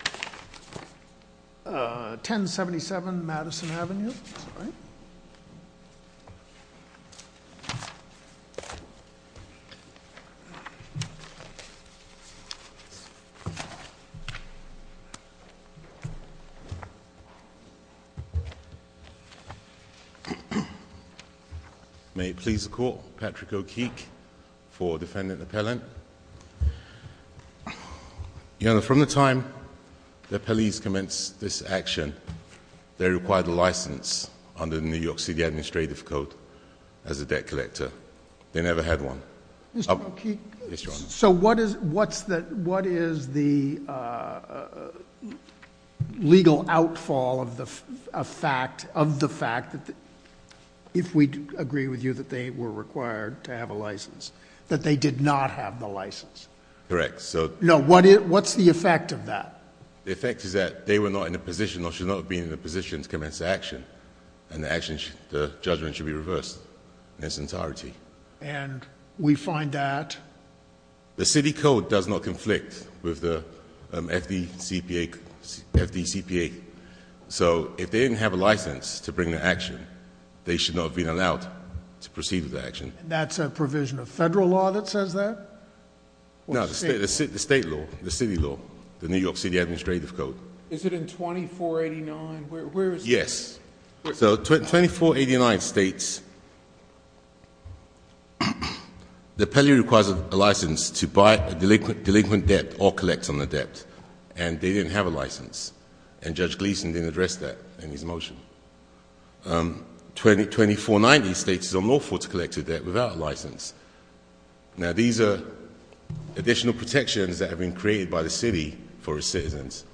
Patrick O'Keeke, Defendant Appellant May it please the Court, Patrick O'Keeke for Defendant Appellant. Your Honor, from the time the police commenced this action, they required a license under the New York City Administrative Code as a debt collector. They never had one. Mr. O'Keeke? Yes, Your Honor. So what is the legal outfall of the fact that, if we agree with you that they were required to have a license, that they did not have the license? Correct. No, what's the effect of that? The effect is that they were not in a position or should not have been in a position to commence the action, and the judgment should be reversed in its entirety. And we find that? The city code does not conflict with the FDCPA. So if they didn't have a license to bring the action, they should not have been allowed to proceed with the action. That's a provision of federal law that says that? No, the state law, the city law, the New York City Administrative Code. Is it in 2489? Yes. So 2489 states the appellee requires a license to buy a delinquent debt or collect on the debt, and they didn't have a license. And Judge Gleeson didn't address that in his motion. 2490 states it's unlawful to collect a debt without a license. Now, these are additional protections that have been created by the city for its citizens.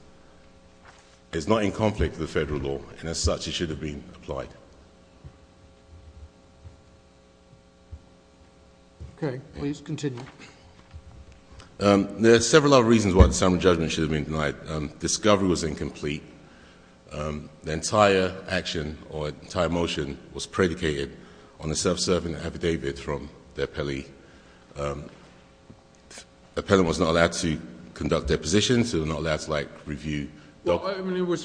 It's not in conflict with the federal law, and as such, it should have been applied. Okay. Please continue. There are several other reasons why the same judgment should have been denied. Discovery was incomplete. The entire action or entire motion was predicated on the self-serving affidavit from the appellee. The appellant was not allowed to conduct depositions. He was not allowed to, like, review. Well, I mean, was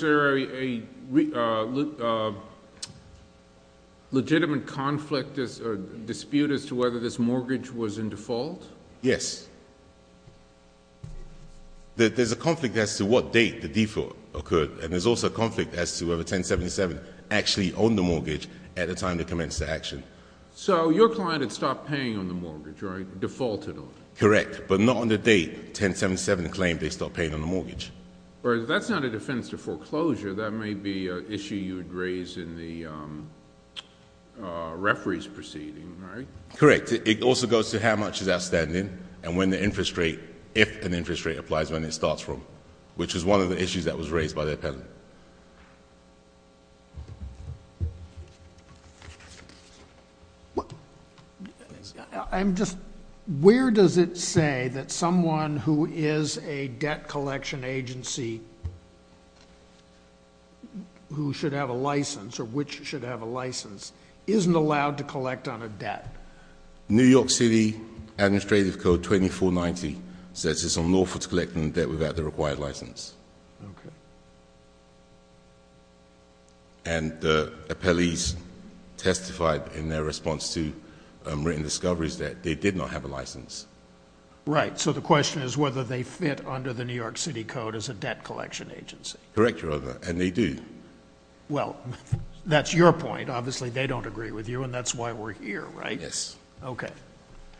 there a legitimate conflict or dispute as to whether this mortgage was in default? Yes. There's a conflict as to what date the default occurred, and there's also a conflict as to whether 1077 actually owned the mortgage at the time they commenced the action. So your client had stopped paying on the mortgage, right, defaulted on it? Correct, but not on the date 1077 claimed they stopped paying on the mortgage. That's not a defense to foreclosure. That may be an issue you would raise in the referees proceeding, right? Correct. It also goes to how much is outstanding and when the interest rate... if an interest rate applies, when it starts from, which is one of the issues that was raised by the appellant. I'm just... where does it say that someone who is a debt collection agency who should have a license or which should have a license isn't allowed to collect on a debt? New York City Administrative Code 2490 says it's unlawful to collect on a debt without the required license. Okay. And the appellees testified in their response to written discoveries that they did not have a license. Right. So the question is whether they fit under the New York City Code as a debt collection agency. Correct, Your Honor, and they do. Well, that's your point. Obviously, they don't agree with you, and that's why we're here, right? Yes. Okay.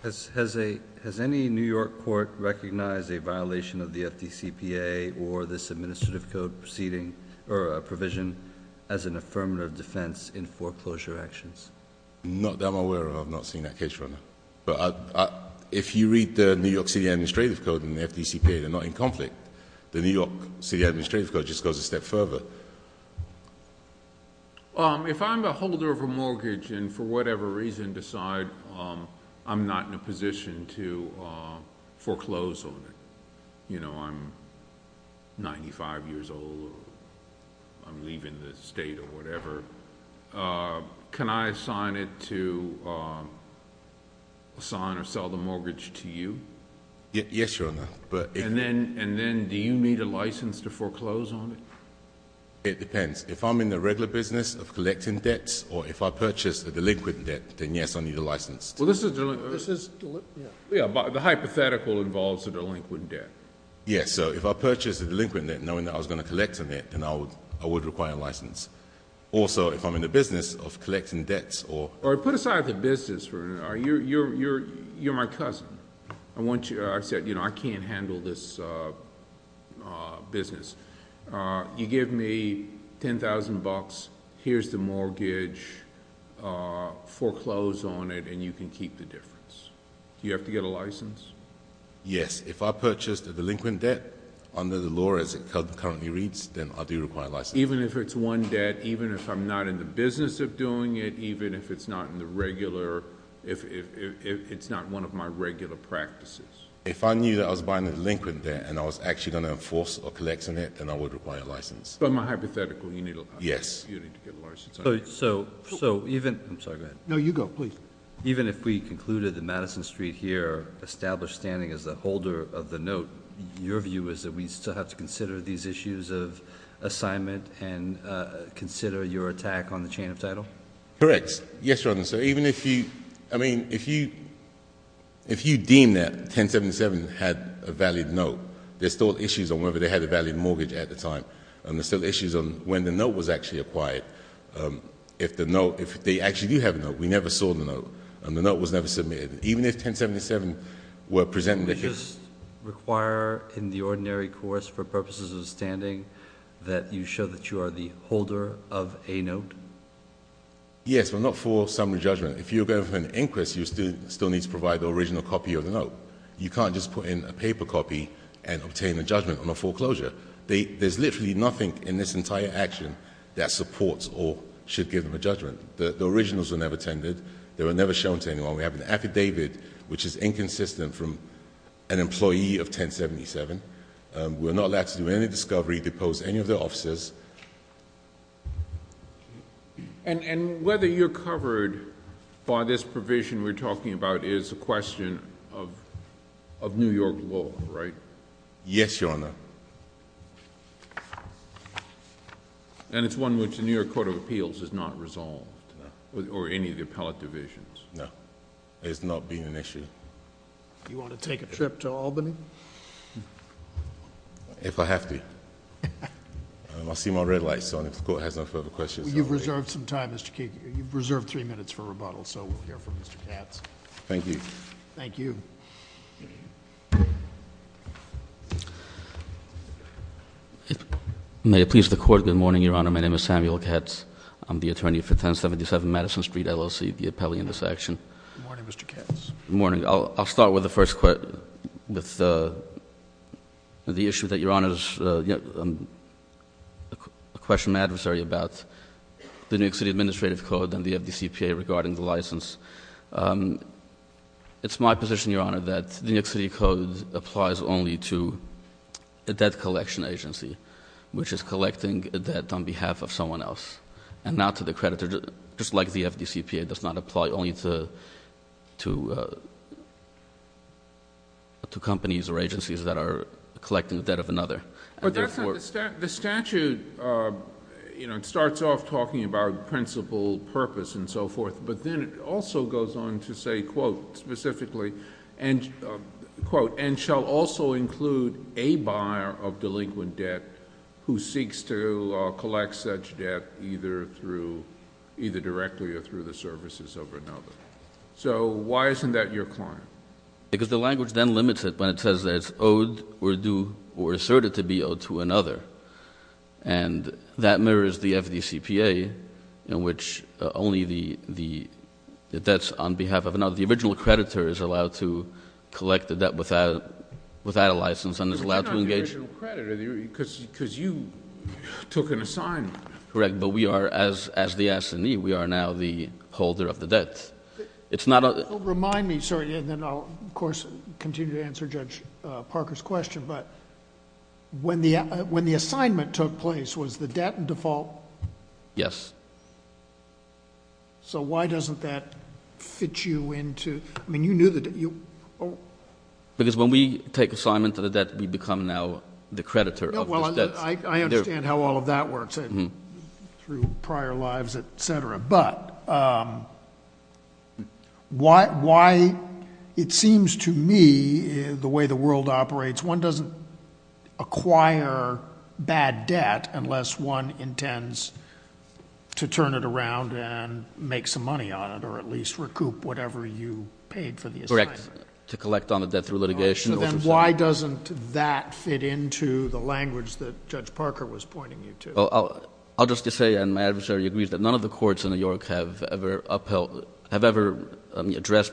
Has any New York court recognized a violation of the FDCPA or this administrative code proceeding or a provision as an affirmative defense in foreclosure actions? Not that I'm aware of. I've not seen that case, Your Honor. But if you read the New York City Administrative Code and the FDCPA, they're not in conflict. The New York City Administrative Code just goes a step further. If I'm a holder of a mortgage and for whatever reason decide I'm not in a position to foreclose on it, you know, I'm 95 years old or I'm leaving the state or whatever, can I assign it to sign or sell the mortgage to you? Yes, Your Honor. And then do you need a license to foreclose on it? It depends. If I'm in the regular business of collecting debts or if I purchase a delinquent debt, then yes, I need a license. Well, this is delinquent. Yeah. The hypothetical involves a delinquent debt. Yes. So if I purchase a delinquent debt knowing that I was going to collect a debt, then I would require a license. Also, if I'm in the business of collecting debts or... All right. Put aside the business for a minute. You're my cousin. I said, you know, I can't handle this business. You give me $10,000. Here's the mortgage. Foreclose on it, and you can keep the difference. Do you have to get a license? Yes. If I purchased a delinquent debt under the law as it currently reads, then I do require a license. Even if it's one debt? Even if I'm not in the business of doing it? Even if it's not in the regular... if it's not one of my regular practices? If I knew that I was buying a delinquent debt and I was actually going to enforce or collect on it, then I would require a license. But in my hypothetical, you need a license. Yes. You need to get a license. So even... I'm sorry. Go ahead. No, you go. Please. Even if we concluded that Madison Street here established standing as the holder of the note, your view is that we still have to consider these issues of assignment and consider your attack on the chain of title? Correct. Yes, Your Honor. So even if you... I mean, if you deem that 1077 had a valid note, there's still issues on whether they had a valid mortgage at the time. And there's still issues on when the note was actually acquired. If the note... if they actually do have a note. We never saw the note. And the note was never submitted. Even if 1077 were presenting the case... Would you just require in the ordinary course for purposes of standing that you show that you are the holder of a note? Yes, but not for summary judgment. If you're going for an inquest, you still need to provide the original copy of the note. You can't just put in a paper copy and obtain a judgment on a foreclosure. There's literally nothing in this entire action that supports or should give them a judgment. The originals were never tended. They were never shown to anyone. We have an affidavit which is inconsistent from an employee of 1077. We're not allowed to do any discovery, depose any of the officers. And whether you're covered by this provision we're talking about is a question of New York law, right? Yes, Your Honor. And it's one which the New York Court of Appeals has not resolved? No. Or any of the appellate divisions? No. It's not been an issue. Do you want to take a trip to Albany? If I have to. I see my red light is on. If the Court has no further questions... You've reserved some time, Mr. Keegan. You've reserved three minutes for rebuttal, so we'll hear from Mr. Katz. Thank you. Thank you. Thank you. May it please the Court, good morning, Your Honor. My name is Samuel Katz. I'm the attorney for 1077 Madison Street, LLC, the appellee in this action. Good morning, Mr. Katz. Good morning. I'll start with the first quote, with the issue that Your Honor is a question of adversary about the New York City Administrative Code and the FDCPA regarding the license. It's my position, Your Honor, that the New York City Code applies only to a debt collection agency, which is collecting a debt on behalf of someone else, and not to the creditor, just like the FDCPA does not apply only to companies or agencies that are collecting the debt of another. But that's not... the statute, you know, it starts off talking about principal purpose and so forth, but then it also goes on to say, quote, specifically, and quote, and shall also include a buyer of delinquent debt who seeks to collect such debt either through... either directly or through the services of another. So why isn't that your claim? Because the language then limits it when it says that it's owed or due or asserted to be owed to another, and that mirrors the FDCPA in which only the debts on behalf of another. The original creditor is allowed to collect the debt without a license and is allowed to engage... But you're not the original creditor, because you took an assignment. Correct, but we are, as the S&E, we are now the holder of the debt. Yes. It's not a... Remind me, sir, and then I'll, of course, continue to answer Judge Parker's question, but when the assignment took place, was the debt in default? Yes. So why doesn't that fit you into... I mean, you knew that you... Because when we take assignment to the debt, we become now the creditor of this debt. I understand how all of that works through prior lives, et cetera, but why it seems to me the way the world operates, one doesn't acquire bad debt unless one intends to turn it around and make some money on it or at least recoup whatever you paid for the assignment. Correct, to collect on the debt through litigation... Well, I'll just say, and my adversary agrees, that none of the courts in New York have ever upheld... have ever addressed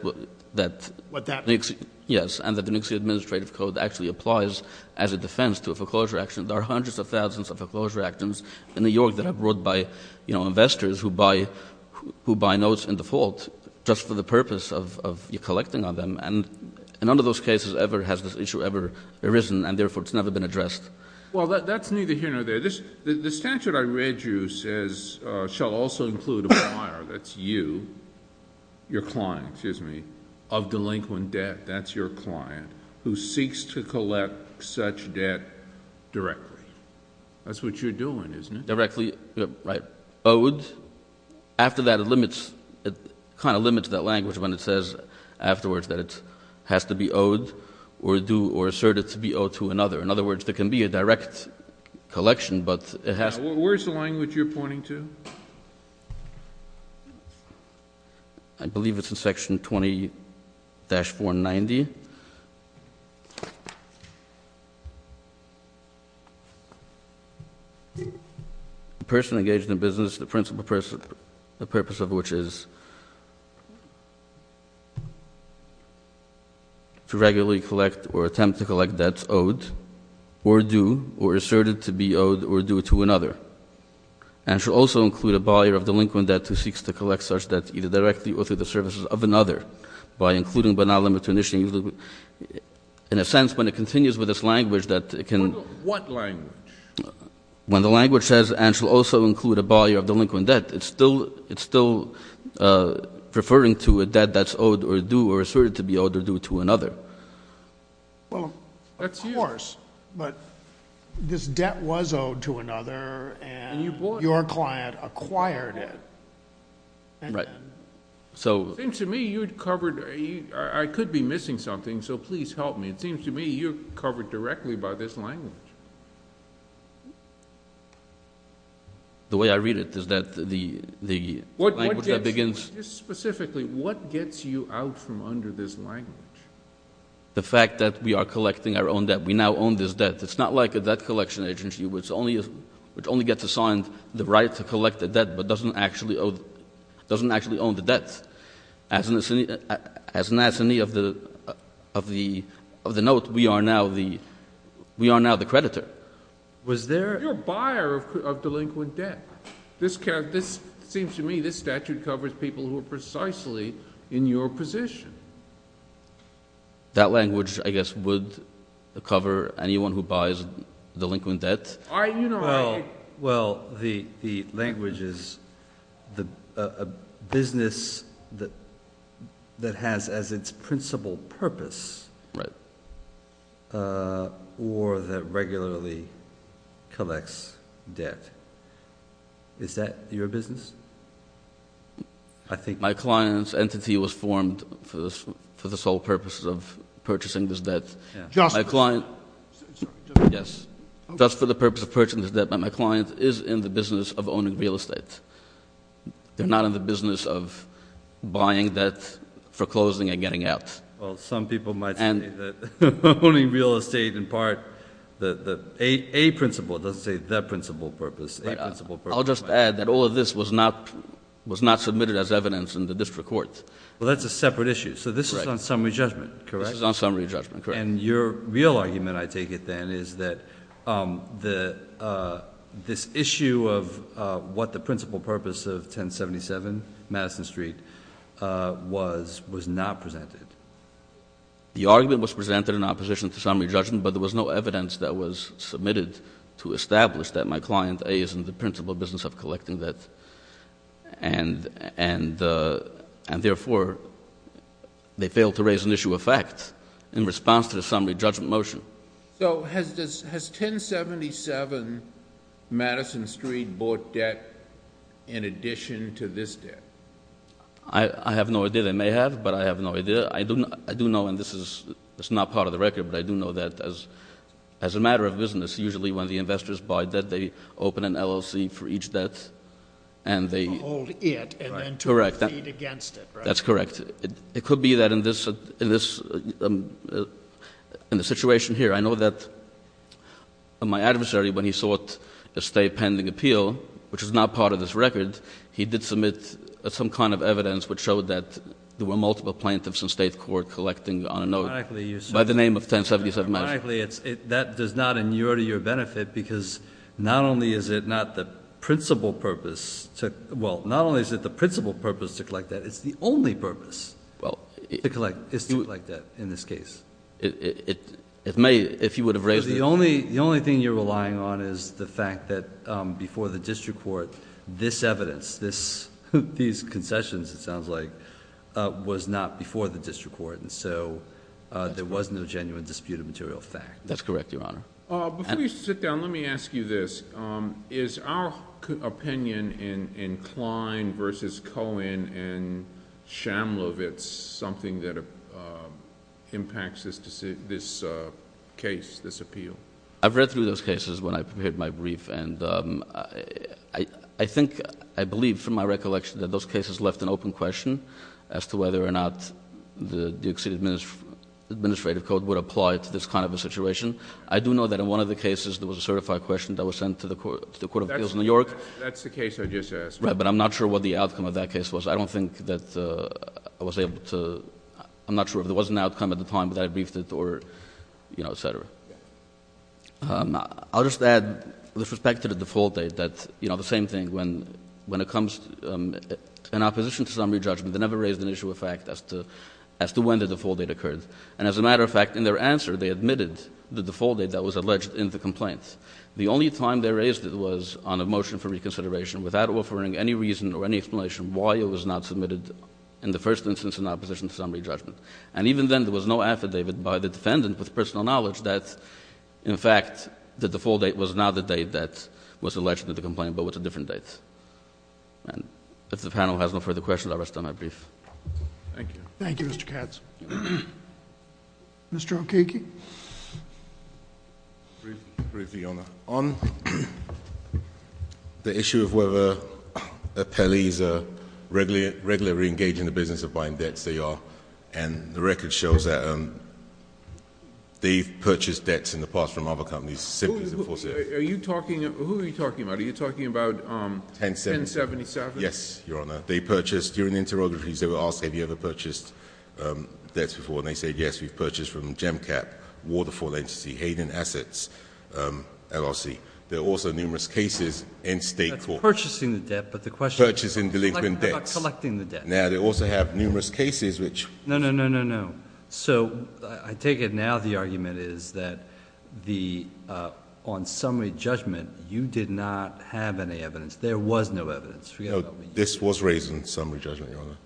that... What that means. Yes, and that the Nixie Administrative Code actually applies as a defense to a foreclosure action. There are hundreds of thousands of foreclosure actions in New York that are brought by, you know, investors who buy notes in default just for the purpose of collecting on them, and none of those cases ever has this issue ever arisen, and therefore it's never been addressed. Well, that's neither here nor there. The statute I read you says shall also include a buyer, that's you, your client, excuse me, of delinquent debt, that's your client, who seeks to collect such debt directly. That's what you're doing, isn't it? Directly, right, owed. After that, it limits, it kind of limits that language when it says afterwards that it has to be owed or do or assert it to be owed to another. In other words, there can be a direct collection, but it has to... Where is the language you're pointing to? I believe it's in Section 20-490. The person engaged in business, the principle person, the purpose of which is... to regularly collect or attempt to collect debts owed or due or asserted to be owed or due to another, and shall also include a buyer of delinquent debt who seeks to collect such debts either directly or through the services of another, by including but not limited to initially. In a sense, when it continues with this language that it can... What language? When the language says and shall also include a buyer of delinquent debt, it's still referring to a debt that's owed or due or asserted to be owed or due to another. Well, of course, but this debt was owed to another, and your client acquired it. Right. So... It seems to me you've covered... I could be missing something, so please help me. It seems to me you're covered directly by this language. The way I read it is that the language that begins... Just specifically, what gets you out from under this language? The fact that we are collecting our own debt. We now own this debt. It's not like a debt collection agency, which only gets assigned the right to collect the debt but doesn't actually own the debt. As an assignee of the note, we are now the creditor. Was there... You're a buyer of delinquent debt. This seems to me this statute covers people who are precisely in your position. That language, I guess, would cover anyone who buys delinquent debt. Well, the language is a business that has as its principal purpose or that regularly collects debt. Is that your business? I think... My client's entity was formed for the sole purpose of purchasing this debt. Just... My client... Sorry, just... Yes. Just for the purpose of purchasing this debt, but my client is in the business of owning real estate. They're not in the business of buying debt, foreclosing, and getting out. Well, some people might say that owning real estate, in part, a principle. It doesn't say the principal purpose. I'll just add that all of this was not submitted as evidence in the district court. Well, that's a separate issue. So this is on summary judgment, correct? This is on summary judgment, correct. And your real argument, I take it then, is that this issue of what the principal purpose of 1077 Madison Street was, was not presented. The argument was presented in opposition to summary judgment, but there was no evidence that was submitted to establish that my client, A, is in the principal business of collecting debt. And therefore, they failed to raise an issue of fact in response to the summary judgment motion. So has 1077 Madison Street bought debt in addition to this debt? I have no idea. They may have, but I have no idea. I do know, and this is not part of the record, but I do know that as a matter of business, usually when the investors buy debt, they open an LLC for each debt. To hold it and then to proceed against it, right? That's correct. It could be that in the situation here. I know that my adversary, when he sought a stay pending appeal, which is not part of this record, he did submit some kind of evidence which showed that there were multiple plaintiffs in state court collecting on a note. By the name of 1077 Madison. That does not inure to your benefit because not only is it not the principal purpose to, well, not only is it the principal purpose to collect debt, it's the only purpose to collect debt in this case. The only thing you're relying on is the fact that before the district court, this evidence, these concessions it sounds like, was not before the district court, and so there was no genuine disputed material fact. That's correct, Your Honor. Before you sit down, let me ask you this. Is our opinion in Klein versus Cohen and Shamlovitz something that impacts this case, this appeal? I've read through those cases when I prepared my brief, and I think, I believe from my recollection that those cases left an open question as to whether or not the Duke City administrative code would apply to this kind of a situation. I do know that in one of the cases there was a certified question that was sent to the court of appeals in New York. That's the case I just asked. Right, but I'm not sure what the outcome of that case was. I don't think that I was able to, I'm not sure if there was an outcome at the time that I briefed it or, you know, et cetera. I'll just add with respect to the default date that, you know, the same thing. When it comes in opposition to summary judgment, they never raised an issue of fact as to when the default date occurred. And as a matter of fact, in their answer, they admitted the default date that was alleged in the complaint. The only time they raised it was on a motion for reconsideration without offering any reason or any explanation why it was not submitted in the first instance in opposition to summary judgment. And even then, there was no affidavit by the defendant with personal knowledge that, in fact, the default date was not the date that was alleged in the complaint but was a different date. And if the panel has no further questions, I'll rest on my brief. Thank you. Thank you, Mr. Katz. Mr. Okeiki. Briefly, Your Honor. On the issue of whether appellees are regularly engaged in the business of buying debts, they are. And the record shows that they've purchased debts in the past from other companies. Who are you talking about? Are you talking about 1077? Yes, Your Honor. They purchased during the interrogations. They were asked, have you ever purchased debts before? And they said, yes, we've purchased from Gemcap, Waterfall Entity, Hayden Assets, LRC. There are also numerous cases in state court. That's purchasing the debt, but the question is about collecting the debt. Now, they also have numerous cases which- No, no, no, no, no. So I take it now the argument is that on summary judgment, you did not have any evidence. There was no evidence. This was raised in summary judgment, Your Honor.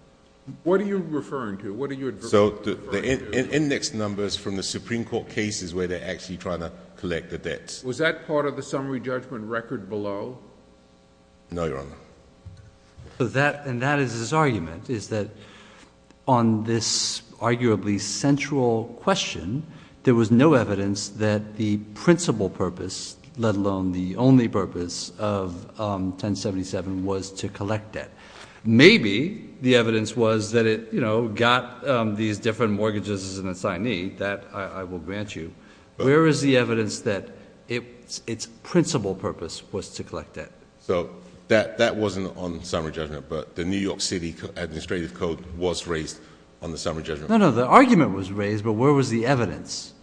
What are you referring to? What are you referring to? So the index numbers from the Supreme Court cases where they're actually trying to collect the debts. Was that part of the summary judgment record below? No, Your Honor. And that is his argument, is that on this arguably central question, there was no evidence that the principal purpose, let alone the only purpose, of 1077 was to collect debt. Maybe the evidence was that it got these different mortgages as an assignee. That I will grant you. Where is the evidence that its principal purpose was to collect debt? So that wasn't on summary judgment, but the New York City Administrative Code was raised on the summary judgment. No, no, the argument was raised, but where was the evidence?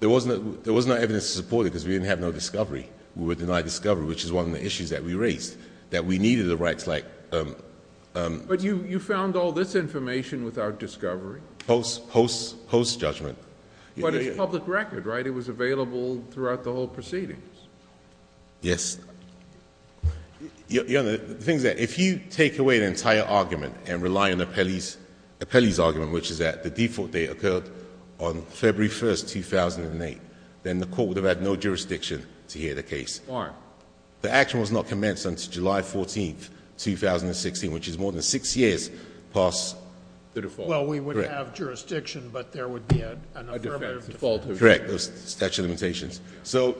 There was no evidence to support it because we didn't have no discovery. We were denied discovery, which is one of the issues that we raised, that we needed the rights like... But you found all this information without discovery? Post judgment. But it's public record, right? It was available throughout the whole proceedings. Yes. Your Honor, the thing is that if you take away the entire argument and rely on Apelli's argument, which is that the default date occurred on February 1, 2008, then the Court would have had no jurisdiction to hear the case. Why? The action was not commenced until July 14, 2016, which is more than 6 years past... The default. Well, we would have jurisdiction, but there would be an affirmative default. Correct. Those statute of limitations. So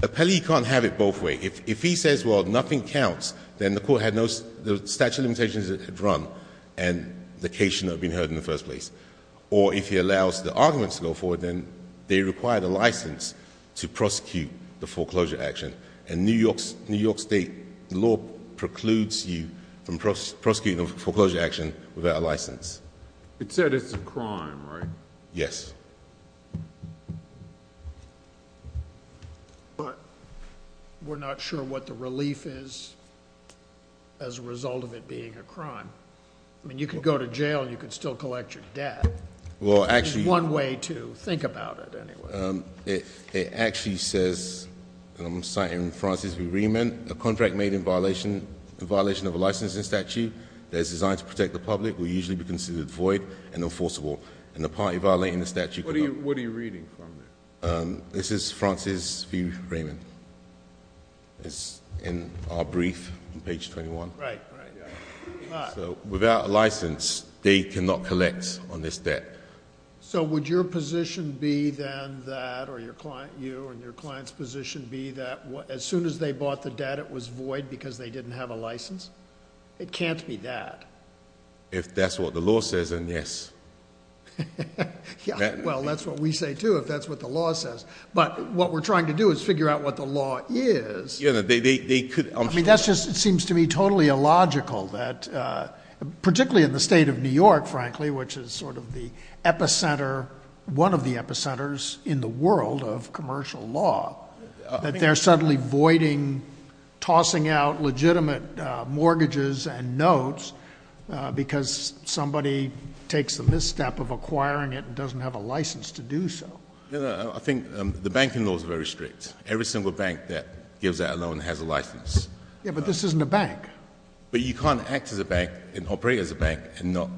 Apelli can't have it both ways. If he says, well, nothing counts, then the Court had no statute of limitations because it had run and the case should not have been heard in the first place. Or if he allows the arguments to go forward, then they require the license to prosecute the foreclosure action. And New York State law precludes you from prosecuting a foreclosure action without a license. It said it's a crime, right? Yes. But we're not sure what the relief is as a result of it being a crime. I mean, you could go to jail and you could still collect your debt. Well, actually... There's one way to think about it, anyway. It actually says, and I'm citing Francis B. Riemann, a contract made in violation of a licensing statute that is designed to protect the public will usually be considered void and enforceable. And the party violating the statute... What are you reading from there? This is Francis B. Riemann. It's in our brief on page 21. Right, right. So without a license, they cannot collect on this debt. So would your position be then that, or your client, you and your client's position, be that as soon as they bought the debt it was void because they didn't have a license? It can't be that. If that's what the law says, then yes. Well, that's what we say, too, if that's what the law says. But what we're trying to do is figure out what the law is. I mean, that just seems to me totally illogical that, particularly in the state of New York, frankly, which is sort of the epicenter, one of the epicenters in the world of commercial law, that they're suddenly voiding, tossing out legitimate mortgages and notes because somebody takes the misstep of acquiring it and doesn't have a license to do so. I think the banking law is very strict. Every single bank that gives out a loan has a license. Yeah, but this isn't a bank. But you can't act as a bank and operate as a bank and not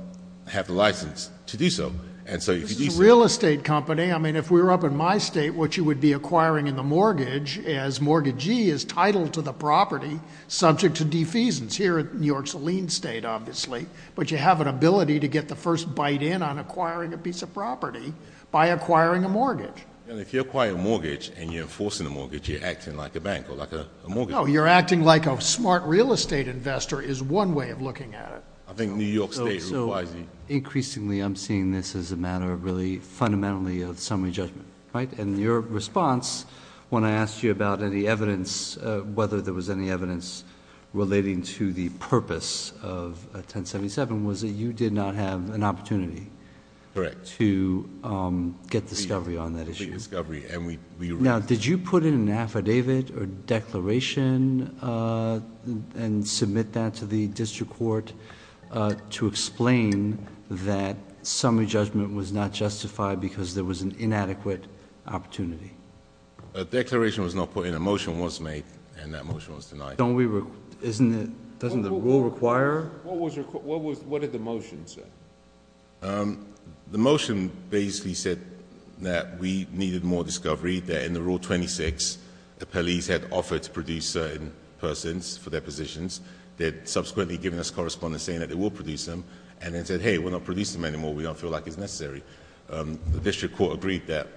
have the license to do so. This is a real estate company. I mean, if we were up in my state, what you would be acquiring in the mortgage, as mortgagee, is title to the property subject to defeasance. Here in New York's a lien state, obviously. But you have an ability to get the first bite in on acquiring a piece of property by acquiring a mortgage. If you acquire a mortgage and you're enforcing a mortgage, you're acting like a bank or like a mortgage. No, you're acting like a smart real estate investor is one way of looking at it. I think New York State requires you. Increasingly, I'm seeing this as a matter of really fundamentally of summary judgment, right? And your response, when I asked you about any evidence, whether there was any evidence relating to the purpose of 1077, was that you did not have an opportunity to get discovery on that issue. Now, did you put in an affidavit or declaration and submit that to the district court to explain that summary judgment was not justified because there was an inadequate opportunity? A declaration was not put in. A motion was made, and that motion was denied. Doesn't the rule require? What did the motion say? The motion basically said that we needed more discovery, that in the rule 26, the police had offered to produce certain persons for their positions. They had subsequently given us correspondence saying that they will produce them, and then said, hey, we're not producing them anymore. We don't feel like it's necessary. The district court agreed that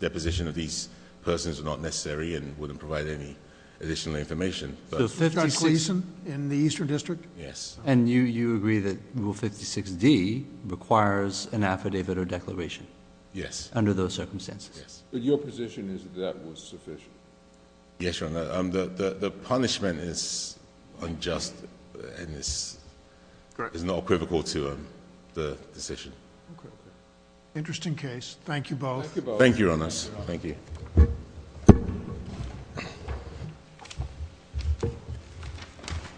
deposition of these persons was not necessary and wouldn't provide any additional information. Judge Gleeson in the Eastern District? Yes. And you agree that rule 56D requires an affidavit or declaration? Yes. Under those circumstances? Yes. But your position is that that was sufficient? Yes, Your Honor. The punishment is unjust and is not equivocal to the decision. Okay. Interesting case. Thank you both. Thank you, Your Honors. Thank you.